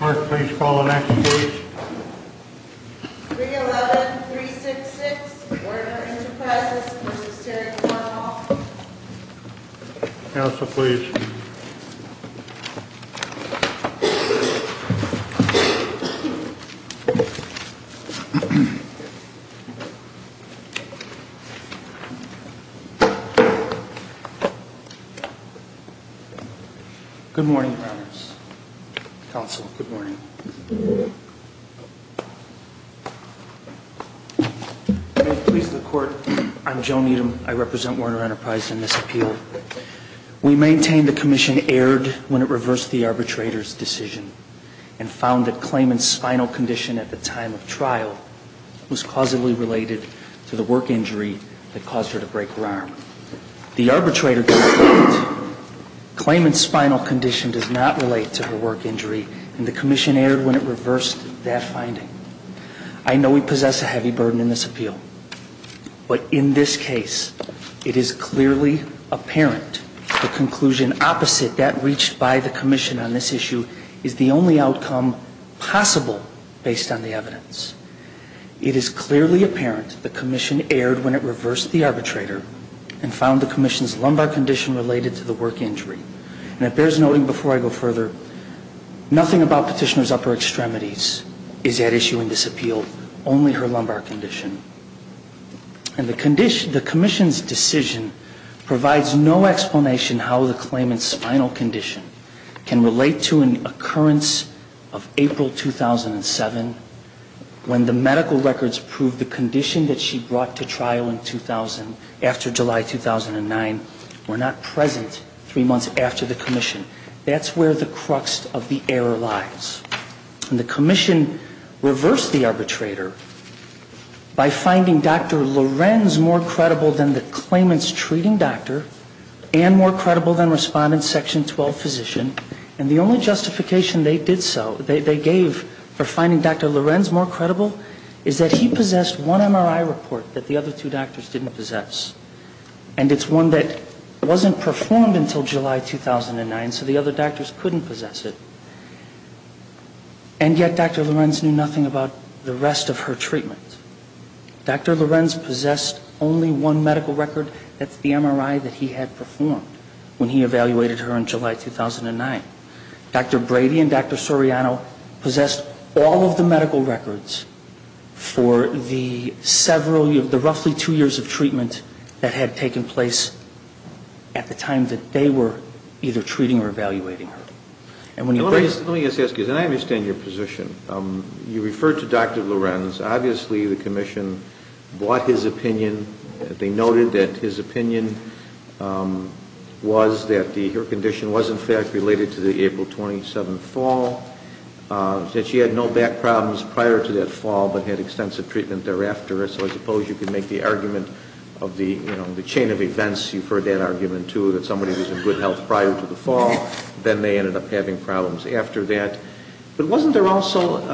Mark, please call the next page. 311-366, Workers' Compensation Comm'n. Council, please. Good morning, Your Honors. Council, good morning. May it please the Court, I'm Joe Needham. I represent Warner Enterprise in this appeal. We maintain the Commission erred when it reversed the arbitrator's decision and found that Clayman's spinal condition at the time of trial was causally related to the work injury that caused her to break her arm. The arbitrator does not, Clayman's spinal condition does not relate to her work injury and the Commission erred when it reversed that finding. I know we possess a heavy burden in this appeal, but in this case, it is clearly apparent the conclusion opposite that reached by the Commission on this issue is the only outcome possible based on the evidence. It is clearly apparent the Commission erred when it reversed the arbitrator and found the Commission's lumbar condition related to the work injury. And it bears noting before I go further, nothing about Petitioner's upper extremities is at issue in this appeal, only her lumbar condition. And the Commission's decision provides no explanation how the Clayman's spinal condition can relate to an occurrence of April 2007 when the medical records prove the condition that she brought to trial after July 2009 were not present three months after the Commission. That's where the crux of the error lies. And the Commission reversed the arbitrator by finding Dr. Lorenz more credible than the Clayman's treating doctor and more credible than Respondent Section 12 physician. And the only justification they did so, they gave for finding Dr. Lorenz more credible is that he possessed one MRI report that the other two doctors didn't possess. And it's one that wasn't performed until July 2009, so the other doctors couldn't possess it. And yet Dr. Lorenz knew nothing about the rest of her treatment. Dr. Lorenz possessed only one medical record, that's the MRI that he had performed when he evaluated her in July 2009. Dr. Brady and Dr. Soriano possessed all of the medical records for the roughly two years of treatment that had taken place at the time that they were either treating or evaluating her. Let me just ask you this, and I understand your position. You referred to Dr. Lorenz. Obviously, the Commission bought his opinion. They noted that his opinion was that her condition was in fact related to the April 27th fall, that she had no back problems prior to that fall but had extensive treatment thereafter. So I suppose you could make the argument of the chain of events, you've heard that argument too, that somebody was in good health prior to the fall, then they ended up having problems after that. But wasn't there also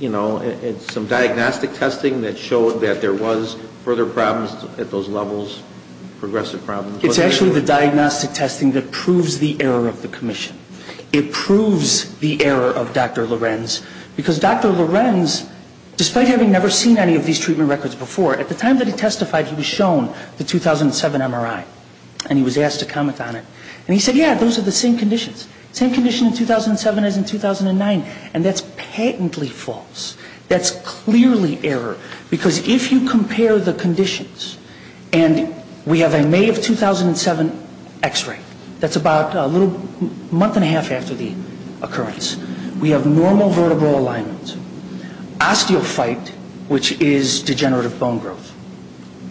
some diagnostic testing that showed that there was further problems at those levels, progressive problems? It's actually the diagnostic testing that proves the error of the Commission. It proves the error of Dr. Lorenz because Dr. Lorenz, despite having never seen any of these treatment records before, at the time that he testified, he was shown the 2007 MRI, and he was asked to comment on it. And he said, yeah, those are the same conditions. Same condition in 2007 as in 2009, and that's patently false. That's clearly error because if you compare the conditions, and we have a May of 2007 x-ray. That's about a little month and a half after the occurrence. We have normal vertebral alignment, osteophyte, which is degenerative bone growth,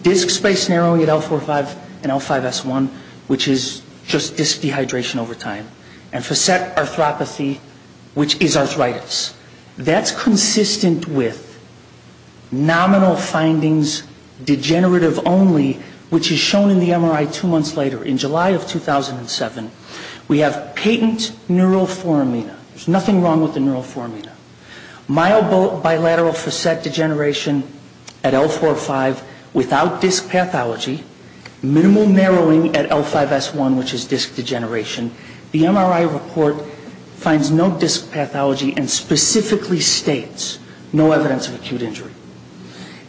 disc space narrowing at L45 and L5S1, which is just disc dehydration over time, and facet arthropathy, which is arthritis. That's consistent with nominal findings, degenerative only, which is shown in the MRI two months later in July of 2007. We have patent neuroformina. There's nothing wrong with the neuroformina. Myobilateral facet degeneration at L45 without disc pathology, minimal narrowing at L5S1, which is disc degeneration. The MRI report finds no disc pathology and specifically states no evidence of acute injury.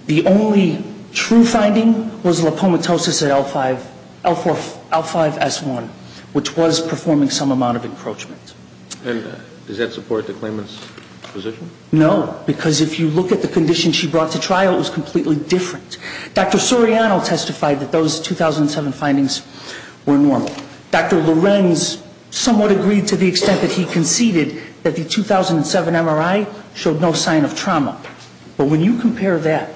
The only true finding was lipomatosis at L5S1, which was performing some amount of encroachment. And does that support the claimant's position? No, because if you look at the condition she brought to trial, it was completely different. Dr. Soriano testified that those 2007 findings were normal. Dr. Lorenz somewhat agreed to the extent that he conceded that the 2007 MRI showed no sign of trauma. But when you compare that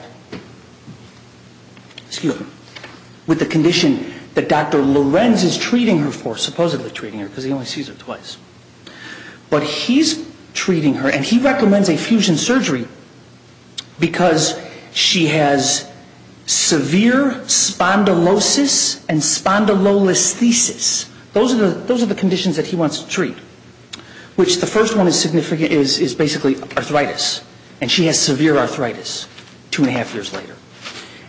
with the condition that Dr. Lorenz is treating her for, supposedly treating her because he only sees her twice, but he's treating her and he recommends a fusion surgery because she has severe spondylosis and spondylolisthesis. Those are the conditions that he wants to treat, which the first one is basically arthritis. And she has severe arthritis two and a half years later.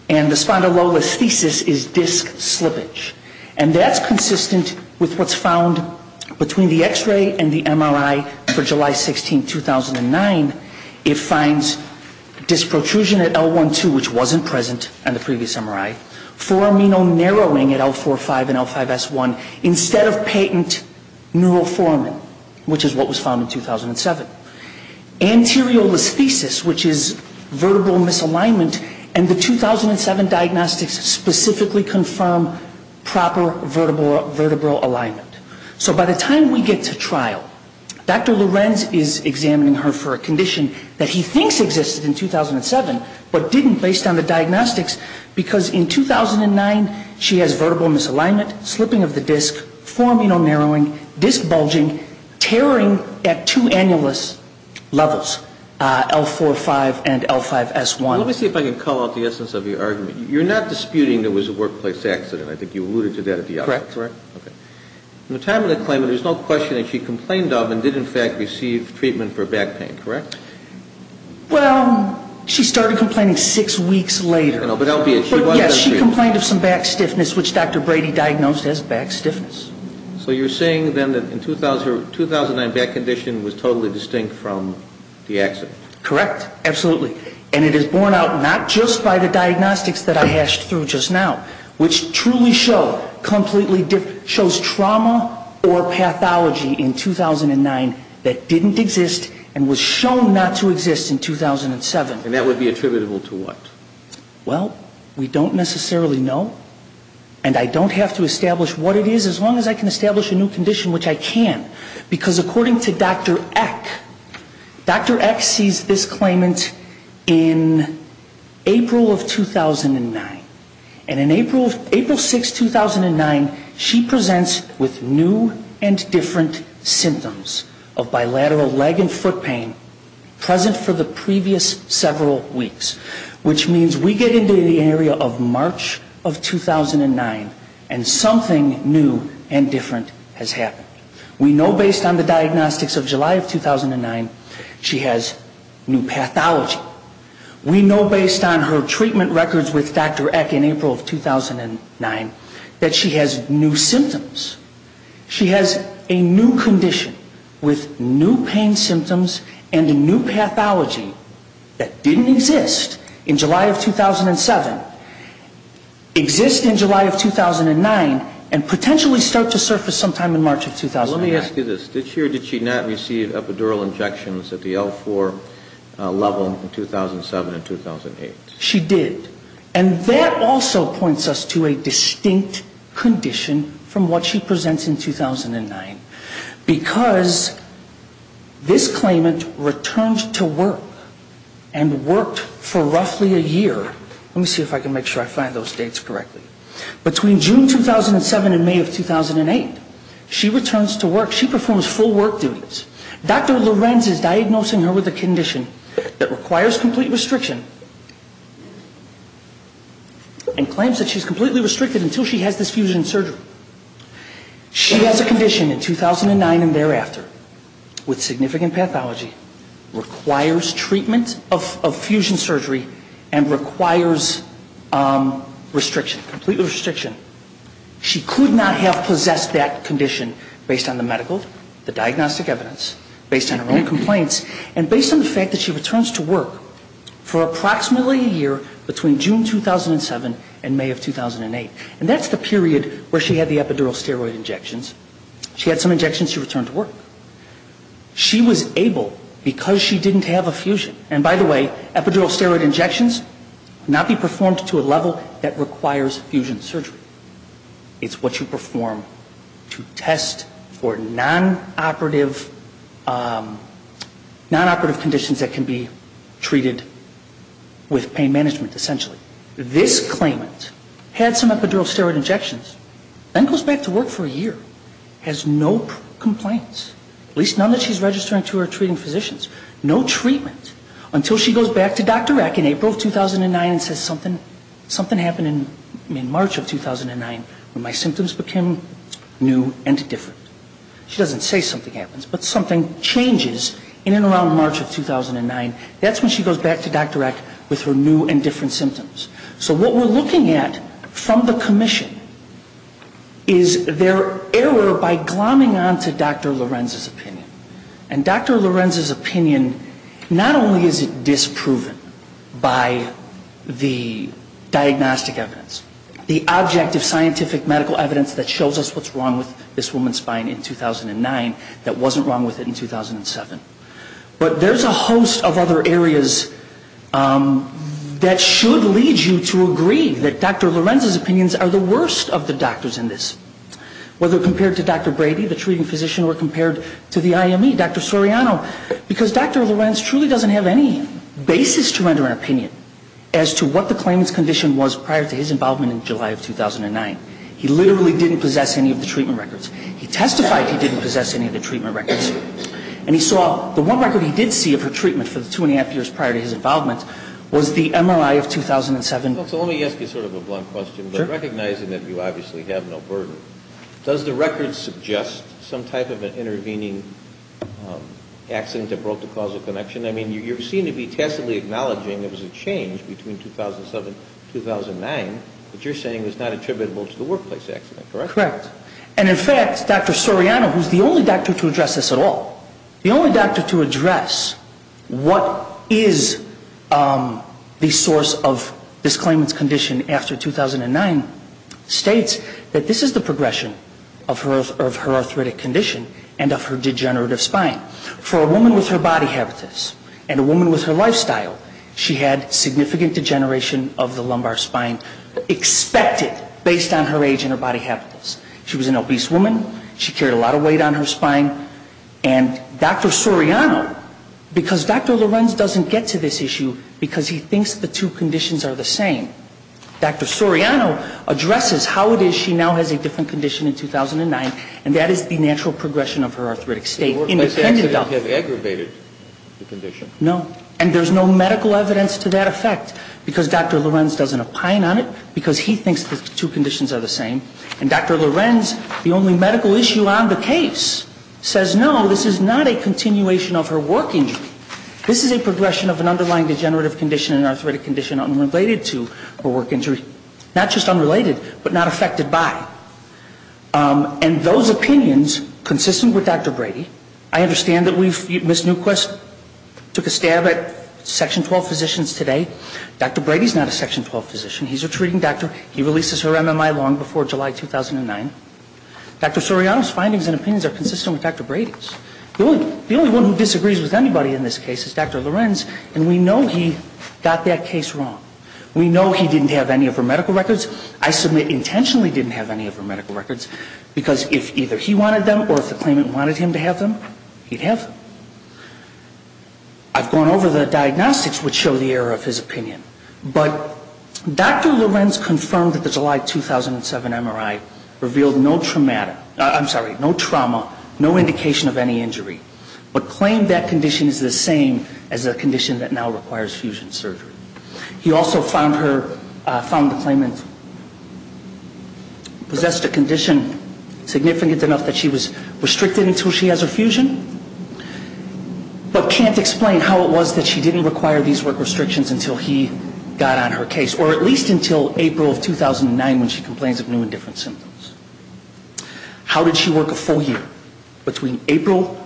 And the spondylolisthesis is disc slippage. And that's consistent with what's found between the X-ray and the MRI for July 16, 2009. It finds disc protrusion at L1-2, which wasn't present on the previous MRI, for amino narrowing at L4-5 and L5S1, instead of patent neuroformin, which is what was found in 2007. Anterior listhesis, which is vertebral misalignment, and the 2007 diagnostics specifically confirm proper vertebral alignment. So by the time we get to trial, Dr. Lorenz is examining her for a condition that he thinks existed in 2007, but didn't based on the diagnostics because in 2009 she has vertebral misalignment, slipping of the disc, four amino narrowing, disc bulging, tearing at two annulus levels, L4-5 and L5S1. Let me see if I can call out the essence of your argument. You're not disputing there was a workplace accident. I think you alluded to that at the outset, correct? Correct. Okay. In the time of the claimant, there's no question that she complained of and did in fact receive treatment for back pain, correct? Well, she started complaining six weeks later. Yes, she complained of some back stiffness, which Dr. Brady diagnosed as back stiffness. So you're saying then that in 2009, back condition was totally distinct from the accident? Correct. Absolutely. And it is borne out not just by the diagnostics that I hashed through just now, which truly shows trauma or pathology in 2009 that didn't exist and was shown not to exist in 2007. And that would be attributable to what? Well, we don't necessarily know. And I don't have to establish what it is as long as I can establish a new condition, which I can. Because according to Dr. Eck, Dr. Eck sees this claimant in April of 2009. And in April 6, 2009, she presents with new and different symptoms of bilateral leg and foot pain present for the previous several weeks, which means we get into the area of March of 2009 and something new and different has happened. We know based on the diagnostics of July of 2009, she has new pathology. We know based on her treatment records with Dr. Eck in April of 2009 that she has new symptoms. She has a new condition with new pain symptoms and a new pathology that didn't exist in July of 2007, exist in July of 2009, and potentially start to surface sometime in March of 2009. Let me ask you this. Did she or did she not receive epidural injections at the L4 level in 2007 and 2008? She did. And that also points us to a distinct condition from what she presents in 2009. Because this claimant returns to work and worked for roughly a year. Let me see if I can make sure I find those dates correctly. Between June 2007 and May of 2008, she returns to work. She performs full work duties. Dr. Lorenz is diagnosing her with a condition that requires complete restriction and claims that she's completely restricted until she has this fusion surgery. She has a condition in 2009 and thereafter with significant pathology, requires treatment of fusion surgery, and requires restriction, complete restriction. She could not have possessed that condition based on the medical, the diagnostic evidence, based on her own complaints, and based on the fact that she returns to work for approximately a year between June 2007 and May of 2008. And that's the period where she had the epidural steroid injections. She had some injections. She returned to work. She was able because she didn't have a fusion. And, by the way, epidural steroid injections cannot be performed to a level that requires fusion surgery. It's what you perform to test for nonoperative conditions that can be treated with pain management, essentially. This claimant had some epidural steroid injections, then goes back to work for a year, has no complaints, at least none that she's registering to her treating physicians. No treatment until she goes back to Dr. Rack in April of 2009 and says, something happened in March of 2009 when my symptoms became new and different. She doesn't say something happens, but something changes in and around March of 2009. That's when she goes back to Dr. Rack with her new and different symptoms. So what we're looking at from the commission is their error by glomming on to Dr. Lorenz's opinion. And Dr. Lorenz's opinion, not only is it disproven by the diagnostic evidence, the objective scientific medical evidence that shows us what's wrong with this woman's spine in 2009 that wasn't wrong with it in 2007, but there's a host of other areas that should lead you to agree that Dr. Lorenz's opinions are the worst of the doctors in this. Whether compared to Dr. Brady, the treating physician, or compared to the IME, Dr. Soriano, because Dr. Lorenz truly doesn't have any basis to render an opinion as to what the claimant's condition was prior to his involvement in July of 2009. He literally didn't possess any of the treatment records. He testified he didn't possess any of the treatment records. And he saw the one record he did see of her treatment for the two and a half years prior to his involvement was the MRI of 2007. Well, so let me ask you sort of a blunt question. Sure. But recognizing that you obviously have no burden, does the record suggest some type of an intervening accident that broke the causal connection? I mean, you seem to be tacitly acknowledging there was a change between 2007 and 2009, but you're saying it's not attributable to the workplace accident, correct? Correct. And in fact, Dr. Soriano, who's the only doctor to address this at all, the only doctor to address what is the source of this claimant's condition after 2009, states that this is the progression of her arthritic condition and of her degenerative spine. For a woman with her body habitus and a woman with her lifestyle, she had significant degeneration of the lumbar spine expected based on her age and her body habitus. She was an obese woman. She carried a lot of weight on her spine. And Dr. Soriano, because Dr. Lorenz doesn't get to this issue because he thinks the two conditions are the same, Dr. Soriano addresses how it is she now has a different condition in 2009, and that is the natural progression of her arthritic state. The workplace accident had aggravated the condition. No. And there's no medical evidence to that effect because Dr. Lorenz doesn't opine on it because he thinks the two conditions are the same. And Dr. Lorenz, the only medical issue on the case, says no, this is not a continuation of her work injury. This is a progression of an underlying degenerative condition and arthritic condition unrelated to her work injury. Not just unrelated, but not affected by. And those opinions, consistent with Dr. Brady, I understand that Ms. Newquist took a stab at Section 12 physicians today. Dr. Brady is not a Section 12 physician. He's a treating doctor. He releases her MMI long before July 2009. Dr. Soriano's findings and opinions are consistent with Dr. Brady's. The only one who disagrees with anybody in this case is Dr. Lorenz, and we know he got that case wrong. We know he didn't have any of her medical records. I submit intentionally didn't have any of her medical records because if either he wanted them or if the claimant wanted him to have them, he'd have them. I've gone over the diagnostics which show the error of his opinion. But Dr. Lorenz confirmed that the July 2007 MRI revealed no trauma, no indication of any injury, but claimed that condition is the same as a condition that now requires fusion surgery. He also found the claimant possessed a condition significant enough that she was restricted until she has her fusion, but can't explain how it was that she didn't require these work restrictions until he got on her case, or at least until April of 2009 when she complains of new and different symptoms. How did she work a full year between April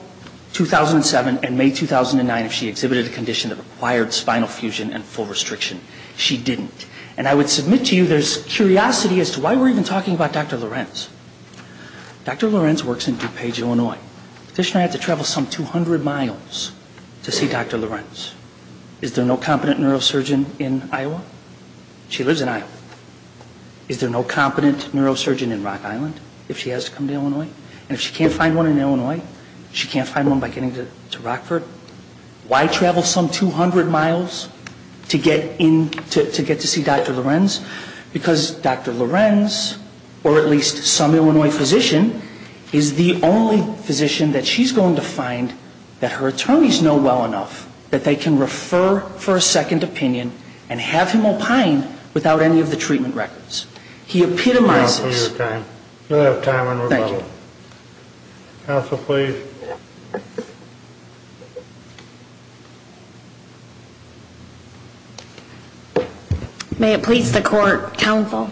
2007 and May 2009 if she exhibited a condition that required spinal fusion and full restriction? She didn't. And I would submit to you there's curiosity as to why we're even talking about Dr. Lorenz. The petitioner had to travel some 200 miles to see Dr. Lorenz. Is there no competent neurosurgeon in Iowa? She lives in Iowa. Is there no competent neurosurgeon in Rock Island if she has to come to Illinois? And if she can't find one in Illinois, she can't find one by getting to Rockford? Why travel some 200 miles to get to see Dr. Lorenz? Because Dr. Lorenz, or at least some Illinois physician, is the only physician that she's going to find that her attorneys know well enough that they can refer for a second opinion and have him opine without any of the treatment records. He epitomizes. We don't have time. Thank you. Counsel, please. May it please the Court, Counsel.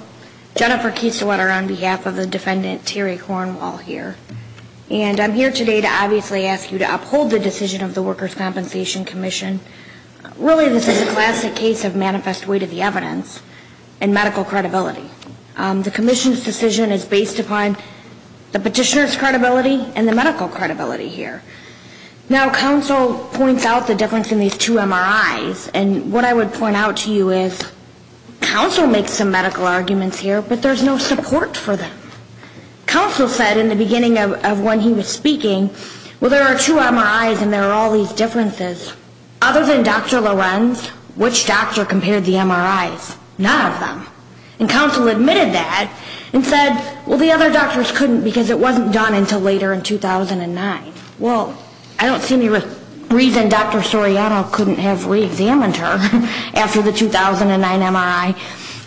Jennifer Kieselwetter on behalf of the defendant, Terry Cornwall, here. And I'm here today to obviously ask you to uphold the decision of the Workers' Compensation Commission. Really, this is a classic case of manifest weight of the evidence and medical credibility. The commission's decision is based upon the petitioner's credibility and the medical credibility. Now, Counsel points out the difference in these two MRIs. And what I would point out to you is Counsel makes some medical arguments here, but there's no support for them. Counsel said in the beginning of when he was speaking, well, there are two MRIs and there are all these differences. Other than Dr. Lorenz, which doctor compared the MRIs? None of them. And Counsel admitted that and said, well, the other doctors couldn't because it wasn't done until later in 2009. Well, I don't see any reason Dr. Soriano couldn't have reexamined her after the 2009 MRI.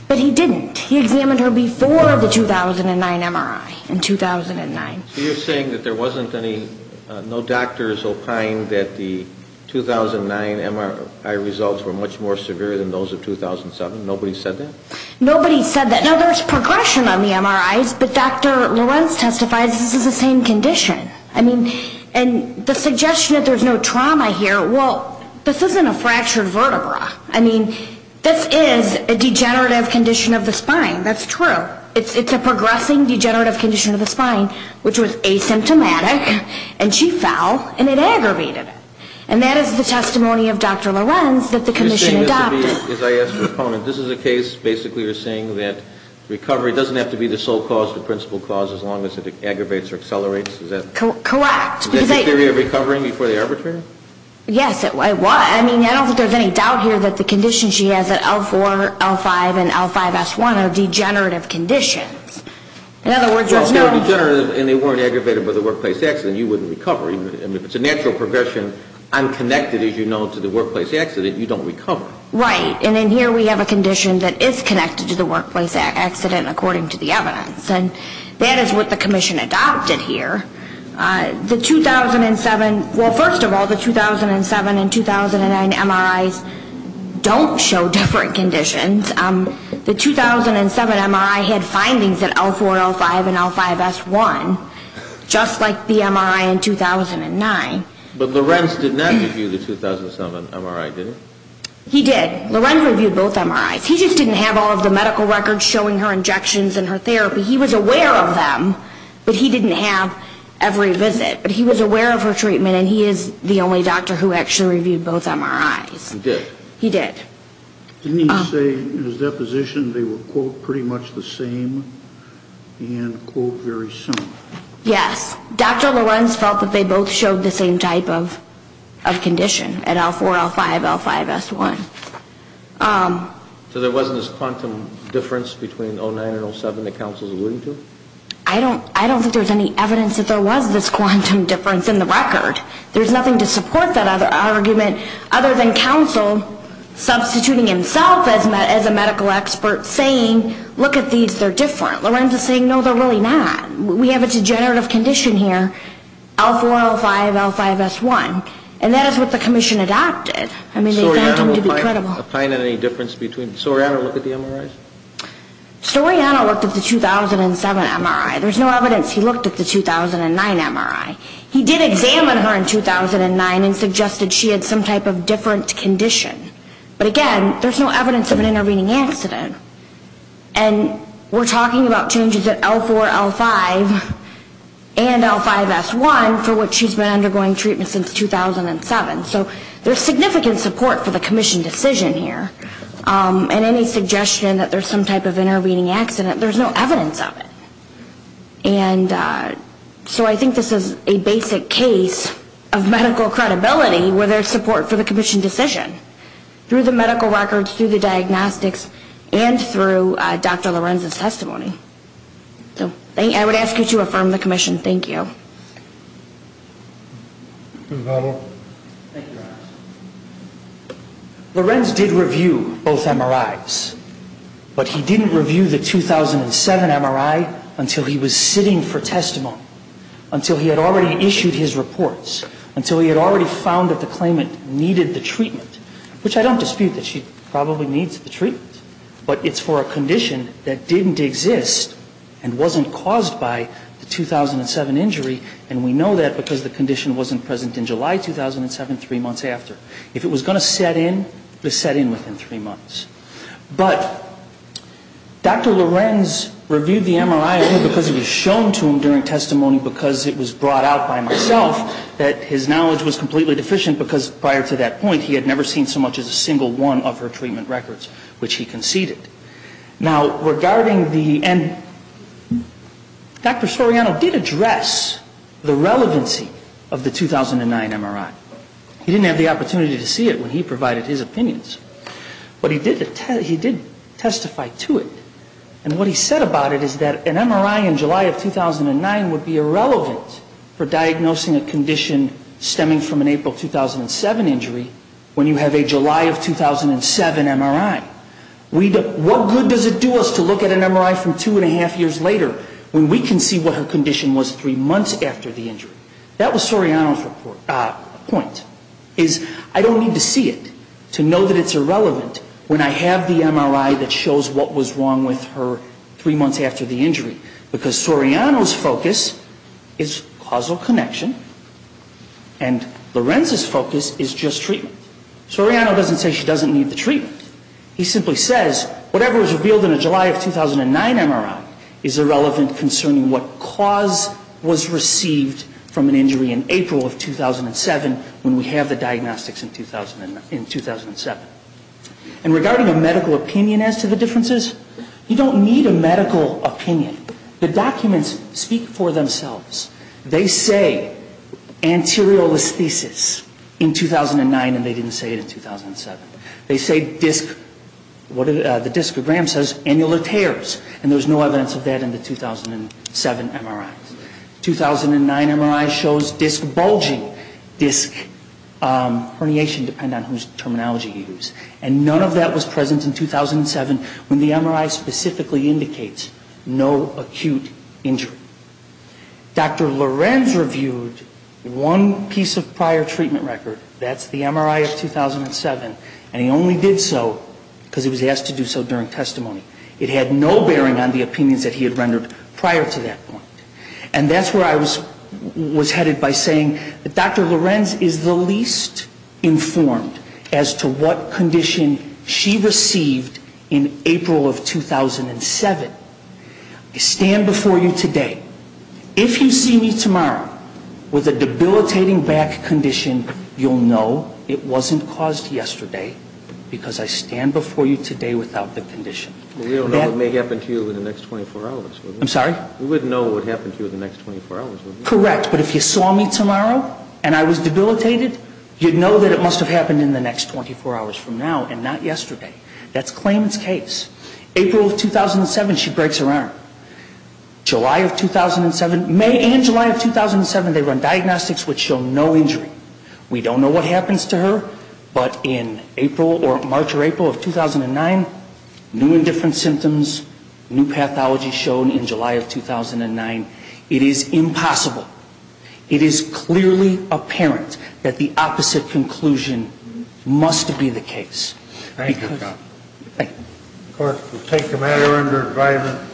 But he didn't. He examined her before the 2009 MRI in 2009. So you're saying that there wasn't any, no doctors opined that the 2009 MRI results were much more severe than those of 2007? Nobody said that? Nobody said that. Now, there's progression on the MRIs, but Dr. Lorenz testifies this is the same condition. I mean, and the suggestion that there's no trauma here, well, this isn't a fractured vertebra. I mean, this is a degenerative condition of the spine. That's true. It's a progressing degenerative condition of the spine, which was asymptomatic and she fell and it aggravated it. And that is the testimony of Dr. Lorenz that the commission adopted. This is a case basically you're saying that recovery doesn't have to be the sole cause, the principal cause, as long as it aggravates or accelerates? Correct. Is that the theory of recovering before the arbitrary? Yes, it was. I mean, I don't think there's any doubt here that the conditions she has at L4, L5, and L5-S1 are degenerative conditions. In other words, let's know. Well, if they were degenerative and they weren't aggravated by the workplace accident, you wouldn't recover. I mean, if it's a natural progression, unconnected, as you know, to the workplace accident, you don't recover. Right. And then here we have a condition that is connected to the workplace accident, according to the evidence. And that is what the commission adopted here. The 2007, well, first of all, the 2007 and 2009 MRIs don't show different conditions. The 2007 MRI had findings at L4, L5, and L5-S1, just like the MRI in 2009. But Lorenz did not review the 2007 MRI, did he? He did. Lorenz reviewed both MRIs. He just didn't have all of the medical records showing her injections and her therapy. He was aware of them, but he didn't have every visit. But he was aware of her treatment, and he is the only doctor who actually reviewed both MRIs. He did? He did. Didn't he say in his deposition they were, quote, pretty much the same, and, quote, very similar? Yes. Dr. Lorenz felt that they both showed the same type of condition at L4, L5, L5-S1. So there wasn't this quantum difference between 2009 and 2007 that counsel's alluding to? I don't think there's any evidence that there was this quantum difference in the record. There's nothing to support that argument other than counsel substituting himself as a medical expert, saying, look at these, they're different. Lorenz is saying, no, they're really not. We have a degenerative condition here, L4, L5, L5-S1. And that is what the commission adopted. I mean, they found them to be credible. Soriano, look at the MRIs? Soriano looked at the 2007 MRI. There's no evidence he looked at the 2009 MRI. He did examine her in 2009 and suggested she had some type of different condition. But, again, there's no evidence of an intervening accident. And we're talking about changes at L4, L5, and L5-S1 for which she's been undergoing treatment since 2007. So there's significant support for the commission decision here. And any suggestion that there's some type of intervening accident, there's no evidence of it. And so I think this is a basic case of medical credibility where there's support for the commission decision, through the medical records, through the diagnostics, and through Dr. Lorenz's testimony. So I would ask you to affirm the commission. Thank you. Lorenz did review both MRIs. But he didn't review the 2007 MRI until he was sitting for testimony, until he had already issued his reports, until he had already found that the claimant needed the treatment, which I don't dispute that she probably needs the treatment. But it's for a condition that didn't exist and wasn't caused by the 2007 injury. And we know that because the condition wasn't present in July 2007, three months after. If it was going to set in, it was set in within three months. But Dr. Lorenz reviewed the MRI only because it was shown to him during testimony, because it was brought out by myself, that his knowledge was completely deficient, because prior to that point he had never seen so much as a single one of her treatment records, which he conceded. Now, regarding the end, Dr. Soriano did address the relevancy of the 2009 MRI. He didn't have the opportunity to see it when he provided his opinions. But he did testify to it. And what he said about it is that an MRI in July of 2009 would be irrelevant for diagnosing a condition stemming from an April 2007 injury when you have a July of 2007 MRI. What good does it do us to look at an MRI from two and a half years later when we can see what her condition was three months after the injury? That was Soriano's point, is I don't need to see it to know that it's irrelevant when I have the MRI that shows what was wrong with her three months after the injury. Because Soriano's focus is causal connection, and Lorenz's focus is just treatment. Soriano doesn't say she doesn't need the treatment. He simply says whatever was revealed in a July of 2009 MRI is irrelevant concerning what cause was received from an injury in April of 2007 when we have the diagnostics in 2007. And regarding a medical opinion as to the differences, you don't need a medical opinion. The documents speak for themselves. They say anterior listhesis in 2009, and they didn't say it in 2007. They say disc, the discogram says annular tears, and there's no evidence of that in the 2007 MRIs. 2009 MRI shows disc bulging, disc herniation depending on whose terminology you use. And none of that was present in 2007 when the MRI specifically indicates no acute injury. Dr. Lorenz reviewed one piece of prior treatment record. That's the MRI of 2007, and he only did so because he was asked to do so during testimony. It had no bearing on the opinions that he had rendered prior to that point. And that's where I was headed by saying that Dr. Lorenz is the least informed as to what condition she received in April of 2007. I stand before you today. If you see me tomorrow with a debilitating back condition, you'll know it wasn't caused yesterday because I stand before you today without the condition. We don't know what may happen to you in the next 24 hours. I'm sorry? We wouldn't know what happened to you in the next 24 hours, would we? Correct, but if you saw me tomorrow and I was debilitated, you'd know that it must have happened in the next 24 hours from now and not yesterday. That's Klayman's case. April of 2007, she breaks her arm. July of 2007, May and July of 2007, they run diagnostics which show no injury. We don't know what happens to her, but in April or March or April of 2009, new and different symptoms, new pathology shown in July of 2009. It is impossible. It is clearly apparent that the opposite conclusion must be the case. Thank you. Of course, we'll take the matter under advisement.